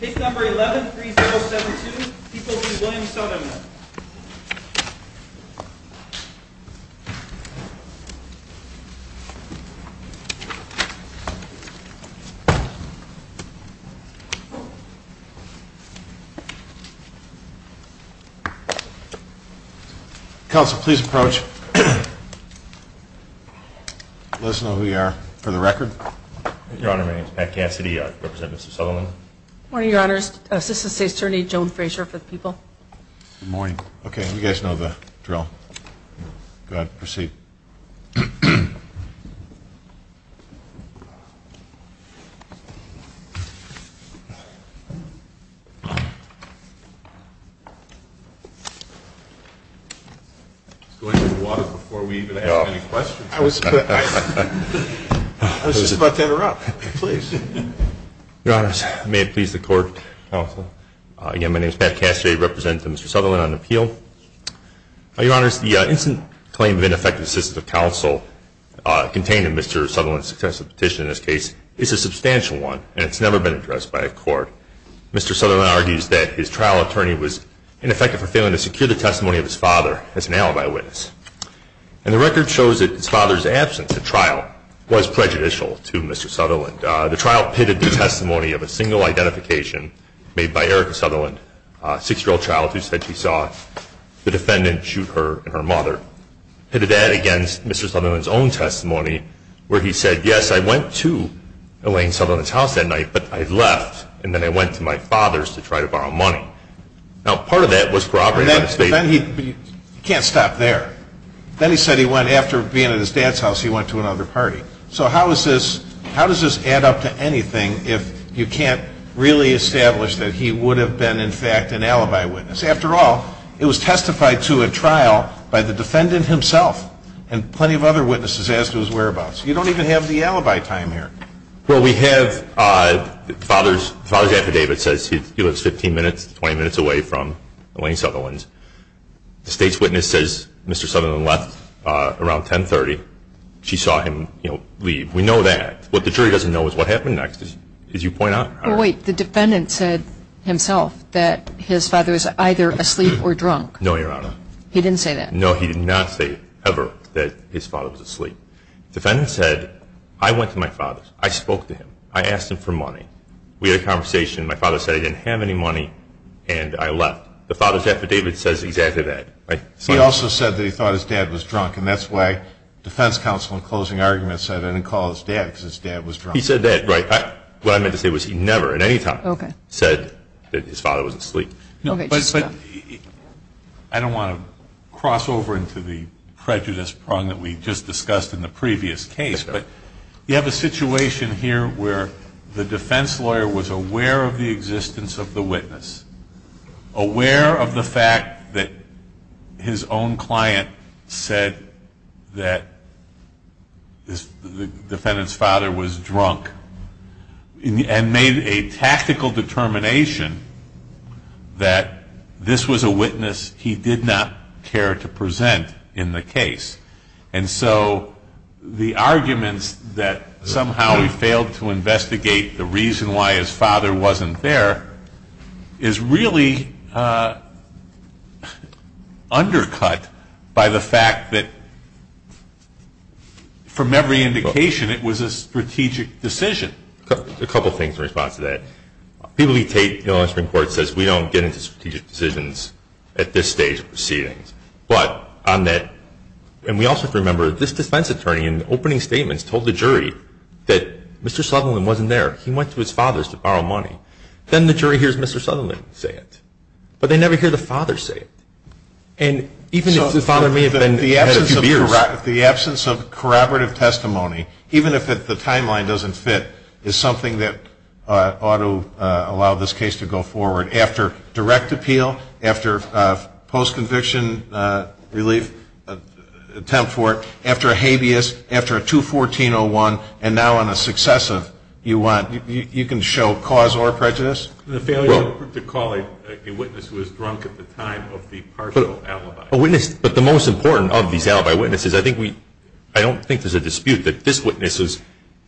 Case number 11-3072, Peoples v. Williams-Southampton. Counsel, please approach. Let us know who you are, for the record. Your Honor, my name is Pat Cassidy. I represent Mr. Sutherland. Good morning, Your Honors. Assistant State's Attorney Joan Frazier for the Peoples. Good morning. Okay, you guys know the drill. Go ahead, proceed. I was just about to interrupt. Please. Your Honors, may it please the Court. Counsel. Again, my name is Pat Cassidy. I represent Mr. Sutherland on appeal. Your Honors, the instant claim of ineffective assistance of counsel contained in Mr. Sutherland's successive petition in this case is a substantial one, and it's never been addressed by a court. Mr. Sutherland argues that his trial attorney was ineffective for failing to secure the testimony of his father as an alibi witness. And the record shows that his father's absence at trial was prejudicial to Mr. Sutherland. The trial pitted the testimony of a single identification made by Erica Sutherland, a 6-year-old child, who said she saw the defendant shoot her and her mother. Pitted that against Mr. Sutherland's own testimony, where he said, yes, I went to Elaine Sutherland's house that night, but I left, and then I went to my father's to try to borrow money. Now, part of that was corroborated by the State. Then he – you can't stop there. Then he said he went – after being at his dad's house, he went to another party. So how is this – how does this add up to anything if you can't really establish that he would have been, in fact, an alibi witness? After all, it was testified to at trial by the defendant himself and plenty of other witnesses as to his whereabouts. You don't even have the alibi time here. Well, we have – the father's affidavit says he lives 15 minutes, 20 minutes away from Elaine Sutherland. The State's witness says Mr. Sutherland left around 10.30. She saw him, you know, leave. We know that. What the jury doesn't know is what happened next, as you point out. Wait. The defendant said himself that his father was either asleep or drunk. No, Your Honor. He didn't say that? No, he did not say ever that his father was asleep. The defendant said, I went to my father's. I spoke to him. I asked him for money. We had a conversation. My father said he didn't have any money, and I left. The father's affidavit says exactly that. He also said that he thought his dad was drunk, and that's why defense counsel in closing argument said I didn't call his dad because his dad was drunk. He said that, right. What I meant to say was he never at any time said that his father was asleep. No, but I don't want to cross over into the prejudice prong that we just discussed in the previous case, but you have a situation here where the defense lawyer was aware of the existence of the witness, aware of the fact that his own client said that the defendant's father was drunk, and made a tactical determination that this was a witness he did not care to present in the case. And so the arguments that somehow we failed to investigate the reason why his father wasn't there is really undercut by the fact that from every indication, it was a strategic decision. A couple things in response to that. People who take the Illinois Supreme Court says we don't get into strategic decisions at this stage of proceedings. But on that, and we also have to remember this defense attorney in opening statements told the jury that Mr. Sutherland wasn't there. He went to his father's to borrow money. Then the jury hears Mr. Sutherland say it, but they never hear the father say it. And even if the father may have been a few beers. The absence of corroborative testimony, even if the timeline doesn't fit, is something that ought to allow this case to go forward after direct appeal, after post-conviction relief attempt for it, after a habeas, after a 214-01, and now on a successive. You can show cause or prejudice. The failure to call a witness who was drunk at the time of the partial alibi. But the most important of these alibi witnesses, I don't think there's a dispute that this witness was,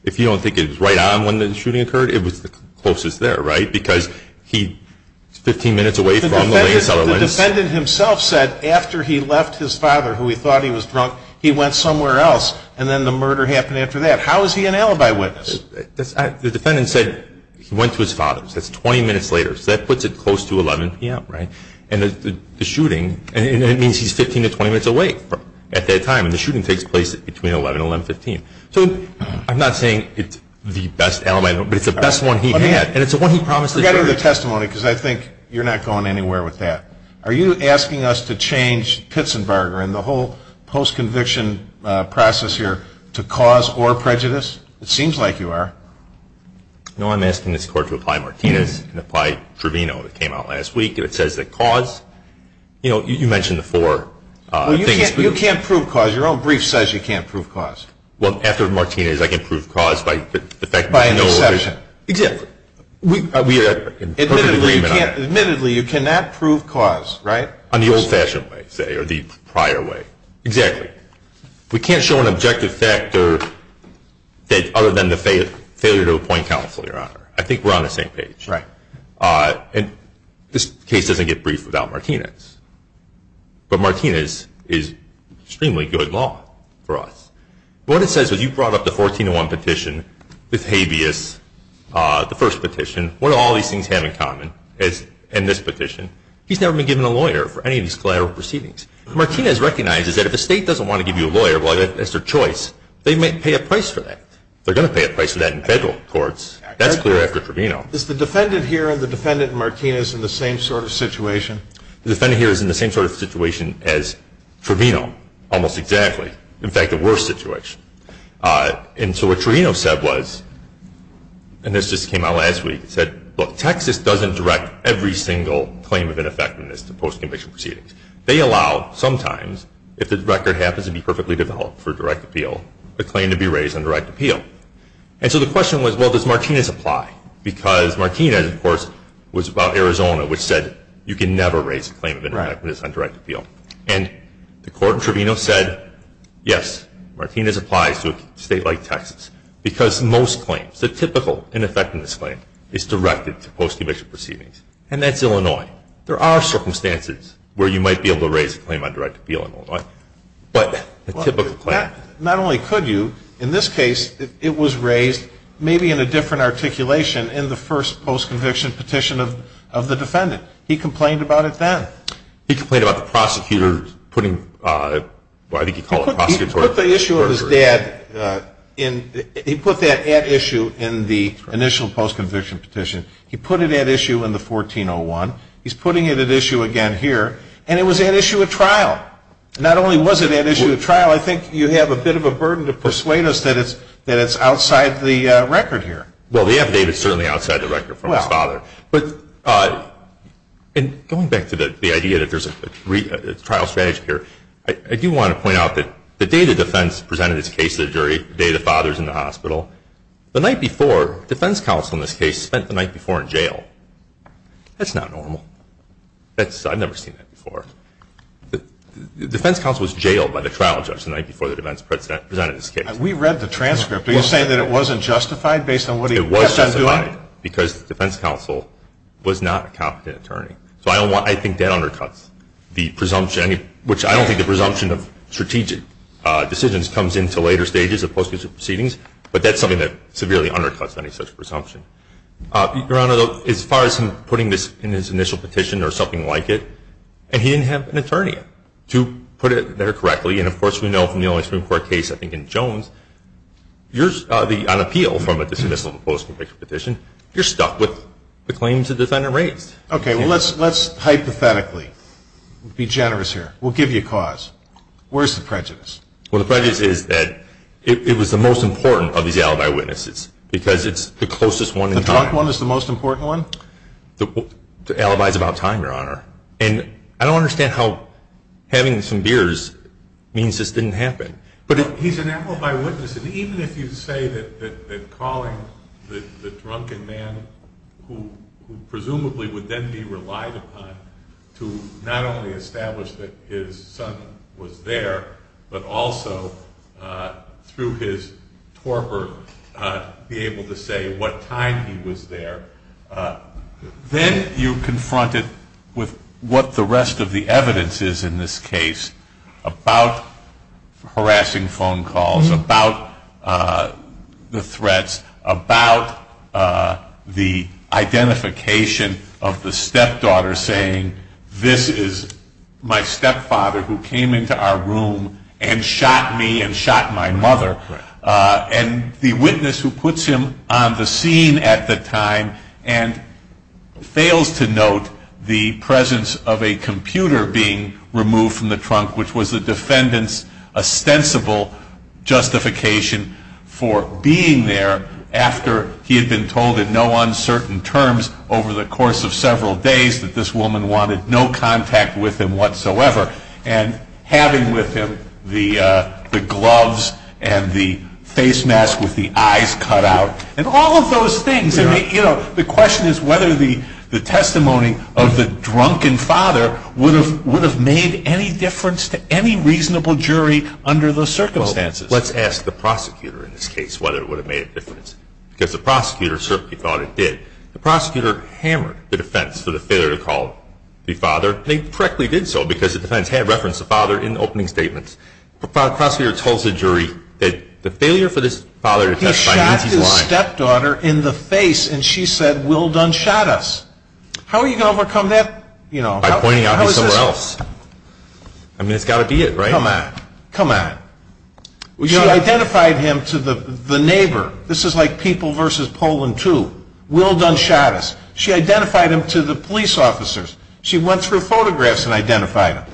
if you don't think it was right on when the shooting occurred, it was the closest there, right? Because he's 15 minutes away from the latest alibi witness. The defendant himself said after he left his father, who he thought he was drunk, he went somewhere else, and then the murder happened after that. How is he an alibi witness? The defendant said he went to his father's. That's 20 minutes later. So that puts it close to 11 p.m., right? And the shooting, and it means he's 15 to 20 minutes away at that time. And the shooting takes place between 11 and 1115. So I'm not saying it's the best alibi, but it's the best one he had. And it's the one he promised the jury. Forgetting the testimony, because I think you're not going anywhere with that. Are you asking us to change Pitzenberger and the whole post-conviction process here to cause or prejudice? It seems like you are. No, I'm asking this Court to apply Martinez and apply Trevino. It came out last week. It says that cause, you know, you mentioned the four things. Well, you can't prove cause. Your own brief says you can't prove cause. Well, after Martinez, I can prove cause by the fact that I know. By an exception. Exactly. We are in perfect agreement on that. Admittedly, you cannot prove cause, right? On the old-fashioned way, say, or the prior way. Exactly. We can't show an objective factor other than the failure to appoint counsel, Your Honor. I think we're on the same page. Right. And this case doesn't get briefed without Martinez. But Martinez is extremely good law for us. What it says is you brought up the 1401 petition with habeas, the first petition. What do all these things have in common in this petition? He's never been given a lawyer for any of these collateral proceedings. Martinez recognizes that if the State doesn't want to give you a lawyer as their choice, they may pay a price for that. They're going to pay a price for that in federal courts. That's clear after Trevino. Is the defendant here and the defendant in Martinez in the same sort of situation? The defendant here is in the same sort of situation as Trevino, almost exactly. In fact, the worst situation. And so what Trevino said was, and this just came out last week, he said, look, Texas doesn't direct every single claim of ineffectiveness to post-conviction proceedings. They allow sometimes, if the record happens to be perfectly developed for direct appeal, a claim to be raised on direct appeal. And so the question was, well, does Martinez apply? Because Martinez, of course, was about Arizona, which said you can never raise a claim of ineffectiveness on direct appeal. And the court in Trevino said, yes, Martinez applies to a State like Texas. Because most claims, the typical ineffectiveness claim is directed to post-conviction proceedings. And that's Illinois. There are circumstances where you might be able to raise a claim on direct appeal in Illinois. But a typical claim. Not only could you, in this case it was raised maybe in a different articulation in the first post-conviction petition of the defendant. He complained about it then. He complained about the prosecutor putting, well, I think he called it prosecutorial. He put the issue of his dad in, he put that at issue in the initial post-conviction petition. He put it at issue in the 1401. He's putting it at issue again here. And it was at issue at trial. Not only was it at issue at trial, I think you have a bit of a burden to persuade us that it's outside the record here. Well, the affidavit is certainly outside the record from his father. But going back to the idea that there's a trial strategy here, I do want to point out that the day the defense presented its case to the jury, the day the father is in the hospital, the night before, defense counsel in this case spent the night before in jail. That's not normal. I've never seen that before. The defense counsel was jailed by the trial judge the night before the defense presented its case. We read the transcript. Are you saying that it wasn't justified based on what he kept on doing? It was justified because the defense counsel was not a competent attorney. So I think that undercuts the presumption, which I don't think the presumption of strategic decisions comes into later stages of post-conviction proceedings. But that's something that severely undercuts any such presumption. Your Honor, as far as him putting this in his initial petition or something like it, he didn't have an attorney to put it there correctly. And, of course, we know from the only Supreme Court case, I think, in Jones, on appeal from a dismissal of a post-conviction petition, you're stuck with the claims the defendant raised. Okay. Well, let's hypothetically be generous here. We'll give you a cause. Where's the prejudice? Well, the prejudice is that it was the most important of these alibi witnesses because it's the closest one in time. The top one is the most important one? The alibi is about time, Your Honor. And I don't understand how having some beers means this didn't happen. But he's an alibi witness. And even if you say that calling the drunken man who presumably would then be relied upon to not only establish that his son was there, but also through his torpor be able to say what time he was there, then you're confronted with what the rest of the evidence is in this case about harassing phone calls, about the threats, about the identification of the stepdaughter saying, this is my stepfather who came into our room and shot me and shot my mother. And the witness who puts him on the scene at the time and fails to note the presence of a computer being removed from the trunk, which was the defendant's ostensible justification for being there after he had been told in no uncertain terms over the course of several days that this woman wanted no contact with him whatsoever, and having with him the gloves and the face mask with the eyes cut out, and all of those things. And the question is whether the testimony of the drunken father would have made any difference to any reasonable jury under those circumstances. Well, let's ask the prosecutor in this case whether it would have made a difference. Because the prosecutor certainly thought it did. The prosecutor hammered the defense for the failure to call the father. They correctly did so because the defense had referenced the father in opening statements. The prosecutor told the jury that the failure for this father to testify means he's lying. He shot his stepdaughter in the face, and she said, Will Dunn shot us. How are you going to overcome that? By pointing out he's somewhere else. I mean, it's got to be it, right? Come on. Come on. She identified him to the neighbor. This is like people versus Poland 2. Will Dunn shot us. She identified him to the police officers. She went through photographs and identified him.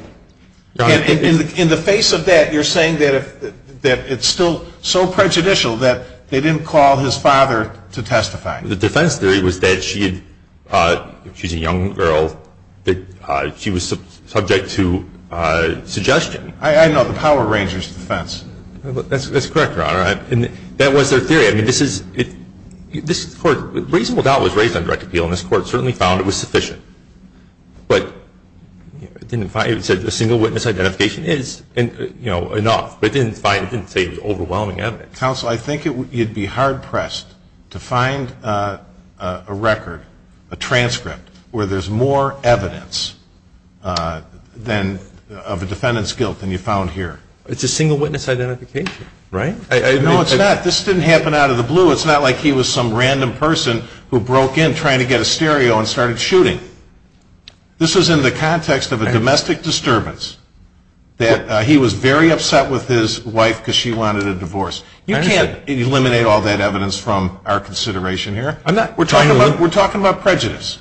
And in the face of that, you're saying that it's still so prejudicial that they didn't call his father to testify. The defense theory was that she's a young girl, that she was subject to suggestion. I know. The Power Rangers defense. That's correct, Your Honor. And that was their theory. I mean, this Court, reasonable doubt was raised on direct appeal, and this Court certainly found it was sufficient. But it said a single witness identification is enough, but it didn't say it was overwhelming evidence. Counsel, I think you'd be hard-pressed to find a record, a transcript, where there's more evidence of a defendant's guilt than you found here. It's a single witness identification, right? No, it's not. This didn't happen out of the blue. It's not like he was some random person who broke in trying to get a stereo and started shooting. This was in the context of a domestic disturbance, that he was very upset with his wife because she wanted a divorce. You can't eliminate all that evidence from our consideration here. We're talking about prejudice.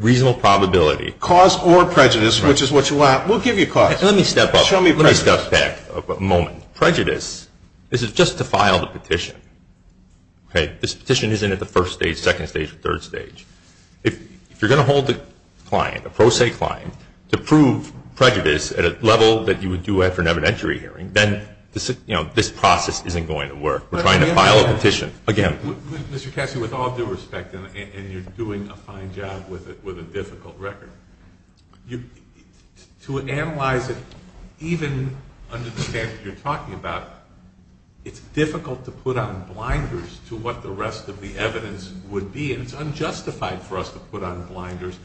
Reasonable probability. Cause or prejudice, which is what you want. We'll give you cause. Let me step back a moment. Reasonable prejudice is just to file the petition. This petition isn't at the first stage, second stage, or third stage. If you're going to hold a client, a pro se client, to prove prejudice at a level that you would do after an evidentiary hearing, then this process isn't going to work. We're trying to file a petition. Mr. Cassidy, with all due respect, and you're doing a fine job with a difficult record, to analyze it, even understand what you're talking about, it's difficult to put on blinders to what the rest of the evidence would be, and it's unjustified for us to put on blinders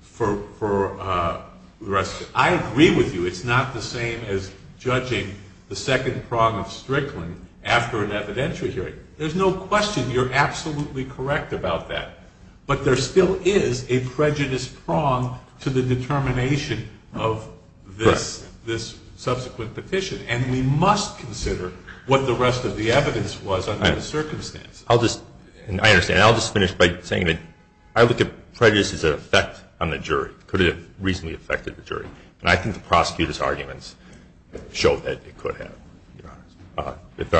for the rest of it. I agree with you. It's not the same as judging the second prong of Strickland after an evidentiary hearing. There's no question. You're absolutely correct about that. But there still is a prejudice prong to the determination of this subsequent petition, and we must consider what the rest of the evidence was under the circumstance. I understand. I'll just finish by saying that I look at prejudice as an effect on the jury. Could it have reasonably affected the jury? And I think the prosecutor's arguments show that it could have, Your Honor. Good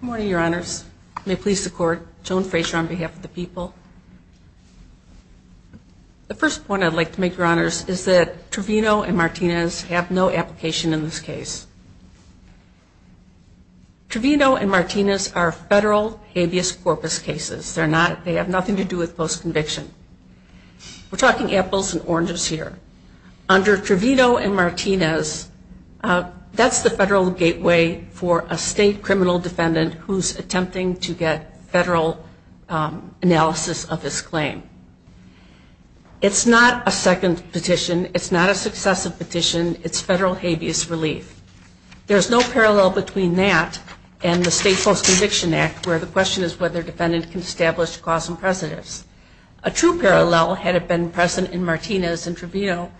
morning, Your Honors. May it please the Court. Joan Fraser on behalf of the people. The first point I'd like to make, Your Honors, is that Trevino and Martinez have no application in this case. Trevino and Martinez are federal habeas corpus cases. They have nothing to do with post-conviction. We're talking apples and oranges. Under Trevino and Martinez, that's the federal gateway for a state criminal defendant who's attempting to get federal analysis of his claim. It's not a second petition. It's not a successive petition. It's federal habeas relief. There's no parallel between that and the State Post-Conviction Act, where the question is whether a defendant can establish cause and precedence. A true parallel, had it been present in Martinez and Trevino,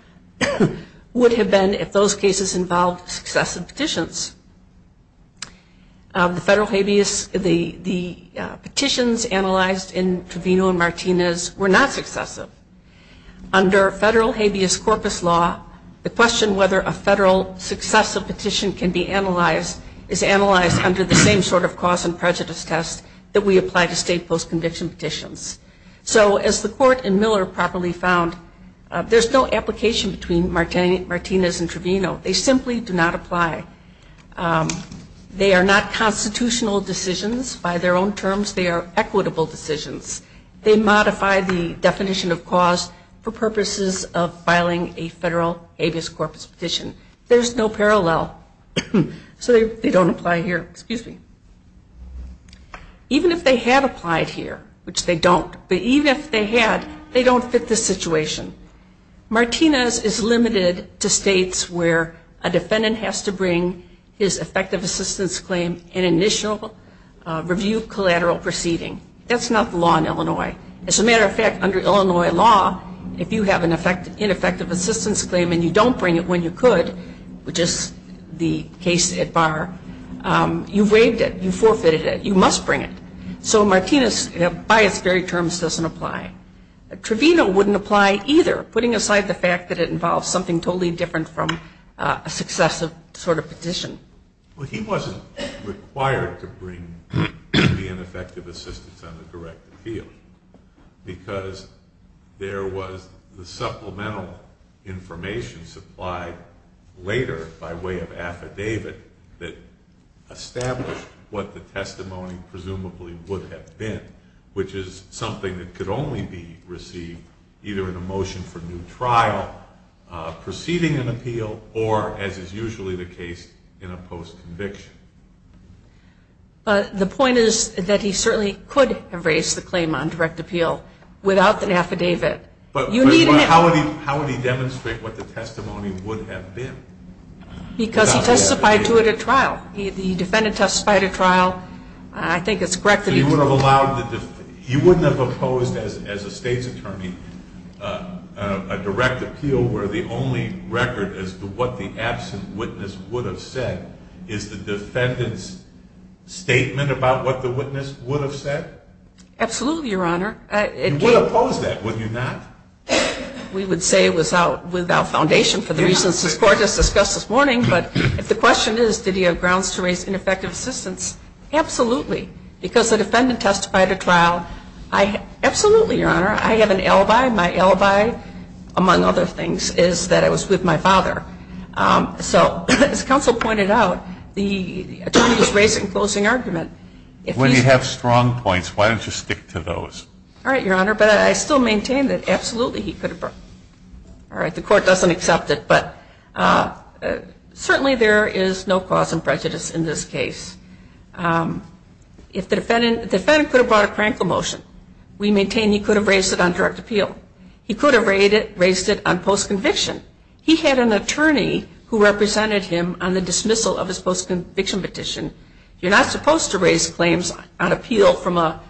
would have been if those cases involved successive petitions. The petitions analyzed in Trevino and Martinez were not successive. Under federal habeas corpus law, the question whether a federal successive petition can be analyzed is analyzed under the same sort of cause and prejudice test that we apply to state post-conviction petitions. So as the court in Miller properly found, there's no application between Martinez and Trevino. They simply do not apply. They are not constitutional decisions by their own terms. They are equitable decisions. They modify the definition of cause for purposes of filing a federal habeas corpus petition. There's no parallel. So they don't apply here. Excuse me. Even if they had applied here, which they don't, but even if they had, they don't fit the situation. Martinez is limited to states where a defendant has to bring his effective assistance claim and initial review collateral proceeding. That's not the law in Illinois. As a matter of fact, under Illinois law, if you have an ineffective assistance claim and you don't bring it when you could, which is the case at bar, you've waived it. You've forfeited it. You must bring it. So Martinez, by its very terms, doesn't apply. Trevino wouldn't apply either, putting aside the fact that it involves something totally different from a successive sort of petition. Well, he wasn't required to bring the ineffective assistance on the direct appeal because there was the supplemental information supplied later by way of affidavit that established what the testimony presumably would have been, which is something that could only be received either in a motion for new trial, proceeding an appeal, or, as is usually the case in a post-conviction. But the point is that he certainly could have raised the claim on direct appeal without an affidavit. But how would he demonstrate what the testimony would have been? Because he testified to it at trial. The defendant testified at trial. I think it's correct that he would have allowed the defeat. He wouldn't have opposed, as a state's attorney, a direct appeal where the only record as to what the absent witness would have said is the defendant's statement about what the witness would have said? Absolutely, Your Honor. You would oppose that, would you not? We would say without foundation for the reasons this Court has discussed this morning. But if the question is, did he have grounds to raise ineffective assistance, absolutely. Because the defendant testified at trial. Absolutely, Your Honor. I have an alibi. My alibi, among other things, is that I was with my father. So as counsel pointed out, the attorney was raising a closing argument. When you have strong points, why don't you stick to those? All right, Your Honor. But I still maintain that absolutely he could have. All right. The Court doesn't accept it. But certainly there is no cause of prejudice in this case. If the defendant could have brought a crankle motion, we maintain he could have raised it on direct appeal. He could have raised it on post-conviction. He had an attorney who represented him on the dismissal of his post-conviction petition. You're not supposed to raise claims on appeal from a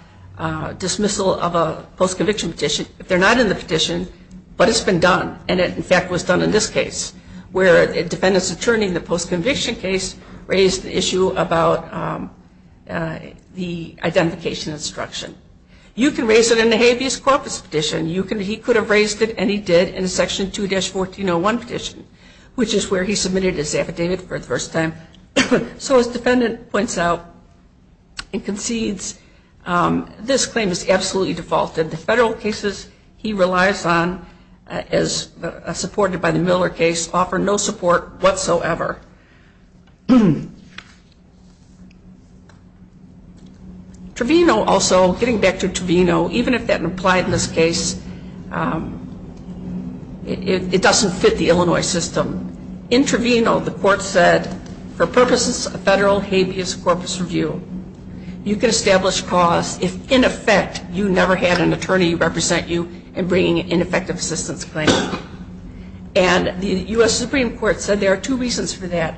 dismissal of a post-conviction petition if they're not in the petition. But it's been done. And it, in fact, was done in this case where the defendant's attorney in the post-conviction case raised the issue about the identification instruction. You can raise it in the habeas corpus petition. He could have raised it, and he did, in Section 2-1401 petition, which is where he submitted his affidavit for the first time. So as the defendant points out and concedes, this claim is absolutely defaulted. The federal cases he relies on as supported by the Miller case offer no support whatsoever. Trevino also, getting back to Trevino, even if that didn't apply in this case, it doesn't fit the Illinois system. In Trevino, the court said, for purposes of federal habeas corpus review, you can establish cause if, in effect, you never had an attorney represent you in bringing an ineffective assistance claim. And the U.S. Supreme Court said there are two reasons for this.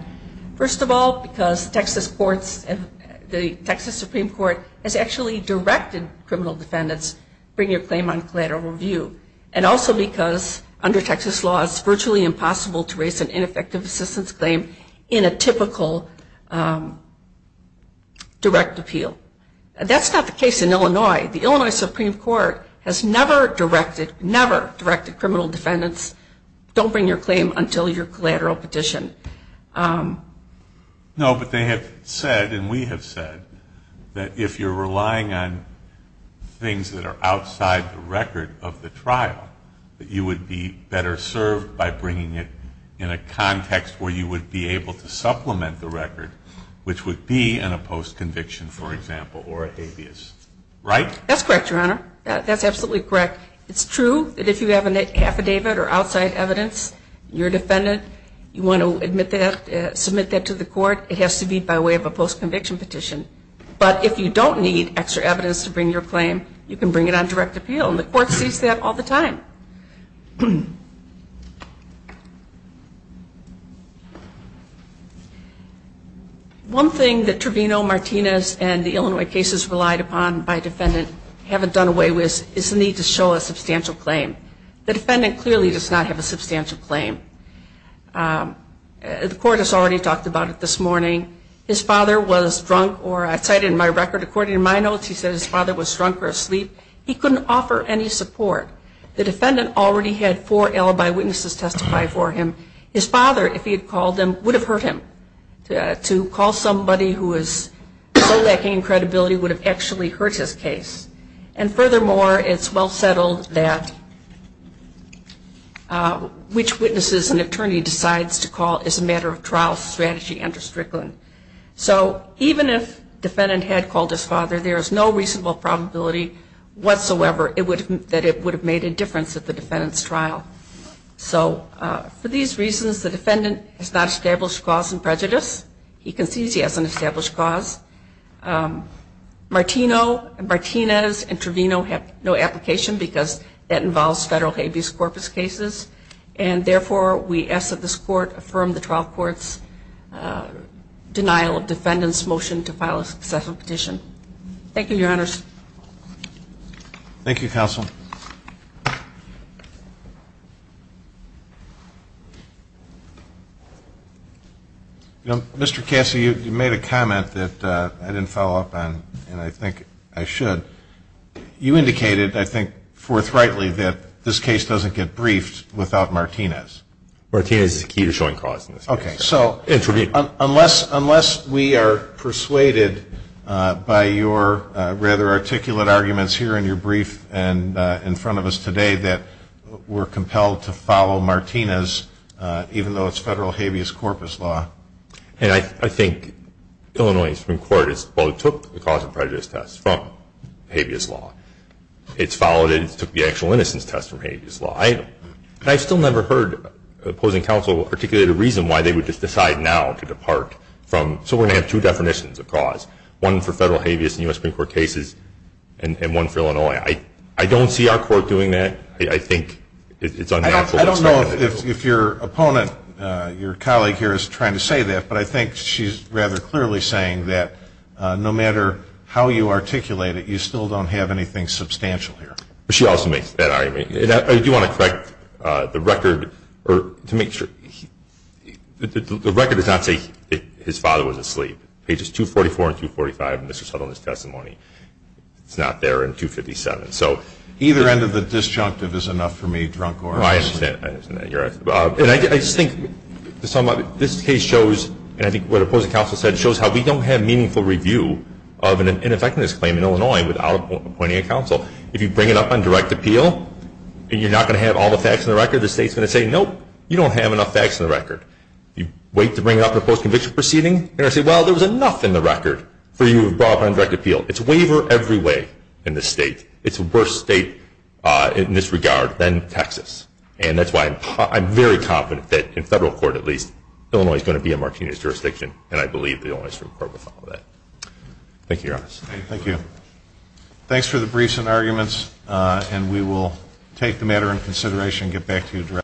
First of all, because the Texas Supreme Court has actually directed criminal defendants to bring their claim on collateral review, and also because under Texas law it's virtually impossible to raise an ineffective assistance claim in a typical direct appeal. That's not the case in Illinois. The Illinois Supreme Court has never directed criminal defendants, don't bring your claim until your collateral petition. No, but they have said, and we have said, that if you're relying on things that are outside the record of the trial, that you would be better served by bringing it in a context where you would be able to supplement the record, which would be in a post-conviction, for example, or a habeas. Right? That's correct, Your Honor. That's absolutely correct. It's true that if you have an affidavit or outside evidence, you're a defendant, you want to submit that to the court, it has to be by way of a post-conviction petition. But if you don't need extra evidence to bring your claim, you can bring it on direct appeal, and the court sees that all the time. One thing that Trevino, Martinez, and the Illinois cases relied upon by defendant and haven't done away with is the need to show a substantial claim. The defendant clearly does not have a substantial claim. The court has already talked about it this morning. His father was drunk, or I cited in my record, according to my notes, he said his father was drunk or asleep. He couldn't offer any support. The defendant already had four alibi witnesses testify for him. His father, if he had called them, would have hurt him. To call somebody who is so lacking in credibility would have actually hurt his case. And furthermore, it's well-settled that which witnesses an attorney decides to call is a matter of trial strategy under Strickland. So even if defendant had called his father, there is no reasonable probability whatsoever that it would have made a difference at the defendant's trial. So for these reasons, the defendant has not established cause and prejudice. He concedes he has an established cause. Martinez and Trevino have no application because that involves federal habeas corpus cases. And therefore, we ask that this court affirm the trial court's denial of defendant's motion to file a successful petition. Thank you, Your Honors. Thank you, Counsel. Mr. Cassie, you made a comment that I didn't follow up on, and I think I should. You indicated, I think forthrightly, that this case doesn't get briefed without Martinez. Martinez is the key to showing cause in this case. Okay. And Trevino. Unless we are persuaded by your rather articulate arguments here in your brief and in front of us today that we're compelled to follow Martinez, even though it's federal habeas corpus law. And I think Illinois from court has both took the cause and prejudice test from habeas law. It's followed it and took the actual innocence test from habeas law. I still never heard opposing counsel articulate a reason why they would just decide now to depart from. So we're going to have two definitions of cause, one for federal habeas and U.S. Supreme Court cases and one for Illinois. I don't see our court doing that. I think it's unnatural. I don't know if your opponent, your colleague here is trying to say that, but I think she's rather clearly saying that no matter how you articulate it, you still don't have anything substantial here. She also makes that argument. I do want to correct the record to make sure. The record does not say his father was asleep. Pages 244 and 245 in Mr. Southerland's testimony. It's not there in 257. So either end of the disjunctive is enough for me, drunk or asleep. I understand. And I just think this case shows, and I think what opposing counsel said, shows how we don't have meaningful review of an ineffectiveness claim in Illinois without appointing a counsel. If you bring it up on direct appeal and you're not going to have all the facts in the record, the state's going to say, nope, you don't have enough facts in the record. If you wait to bring it up in a post-conviction proceeding, they're going to say, well, there was enough in the record for you to have brought it up on direct appeal. It's a waiver every way in this state. It's a worse state in this regard than Texas. And that's why I'm very confident that, in federal court at least, Illinois is going to be in Martinez's jurisdiction, and I believe the Illinois Supreme Court will follow that. Thank you, Your Honor. Thank you. Thanks for the briefs and arguments, and we will take the matter into consideration and get back to you directly.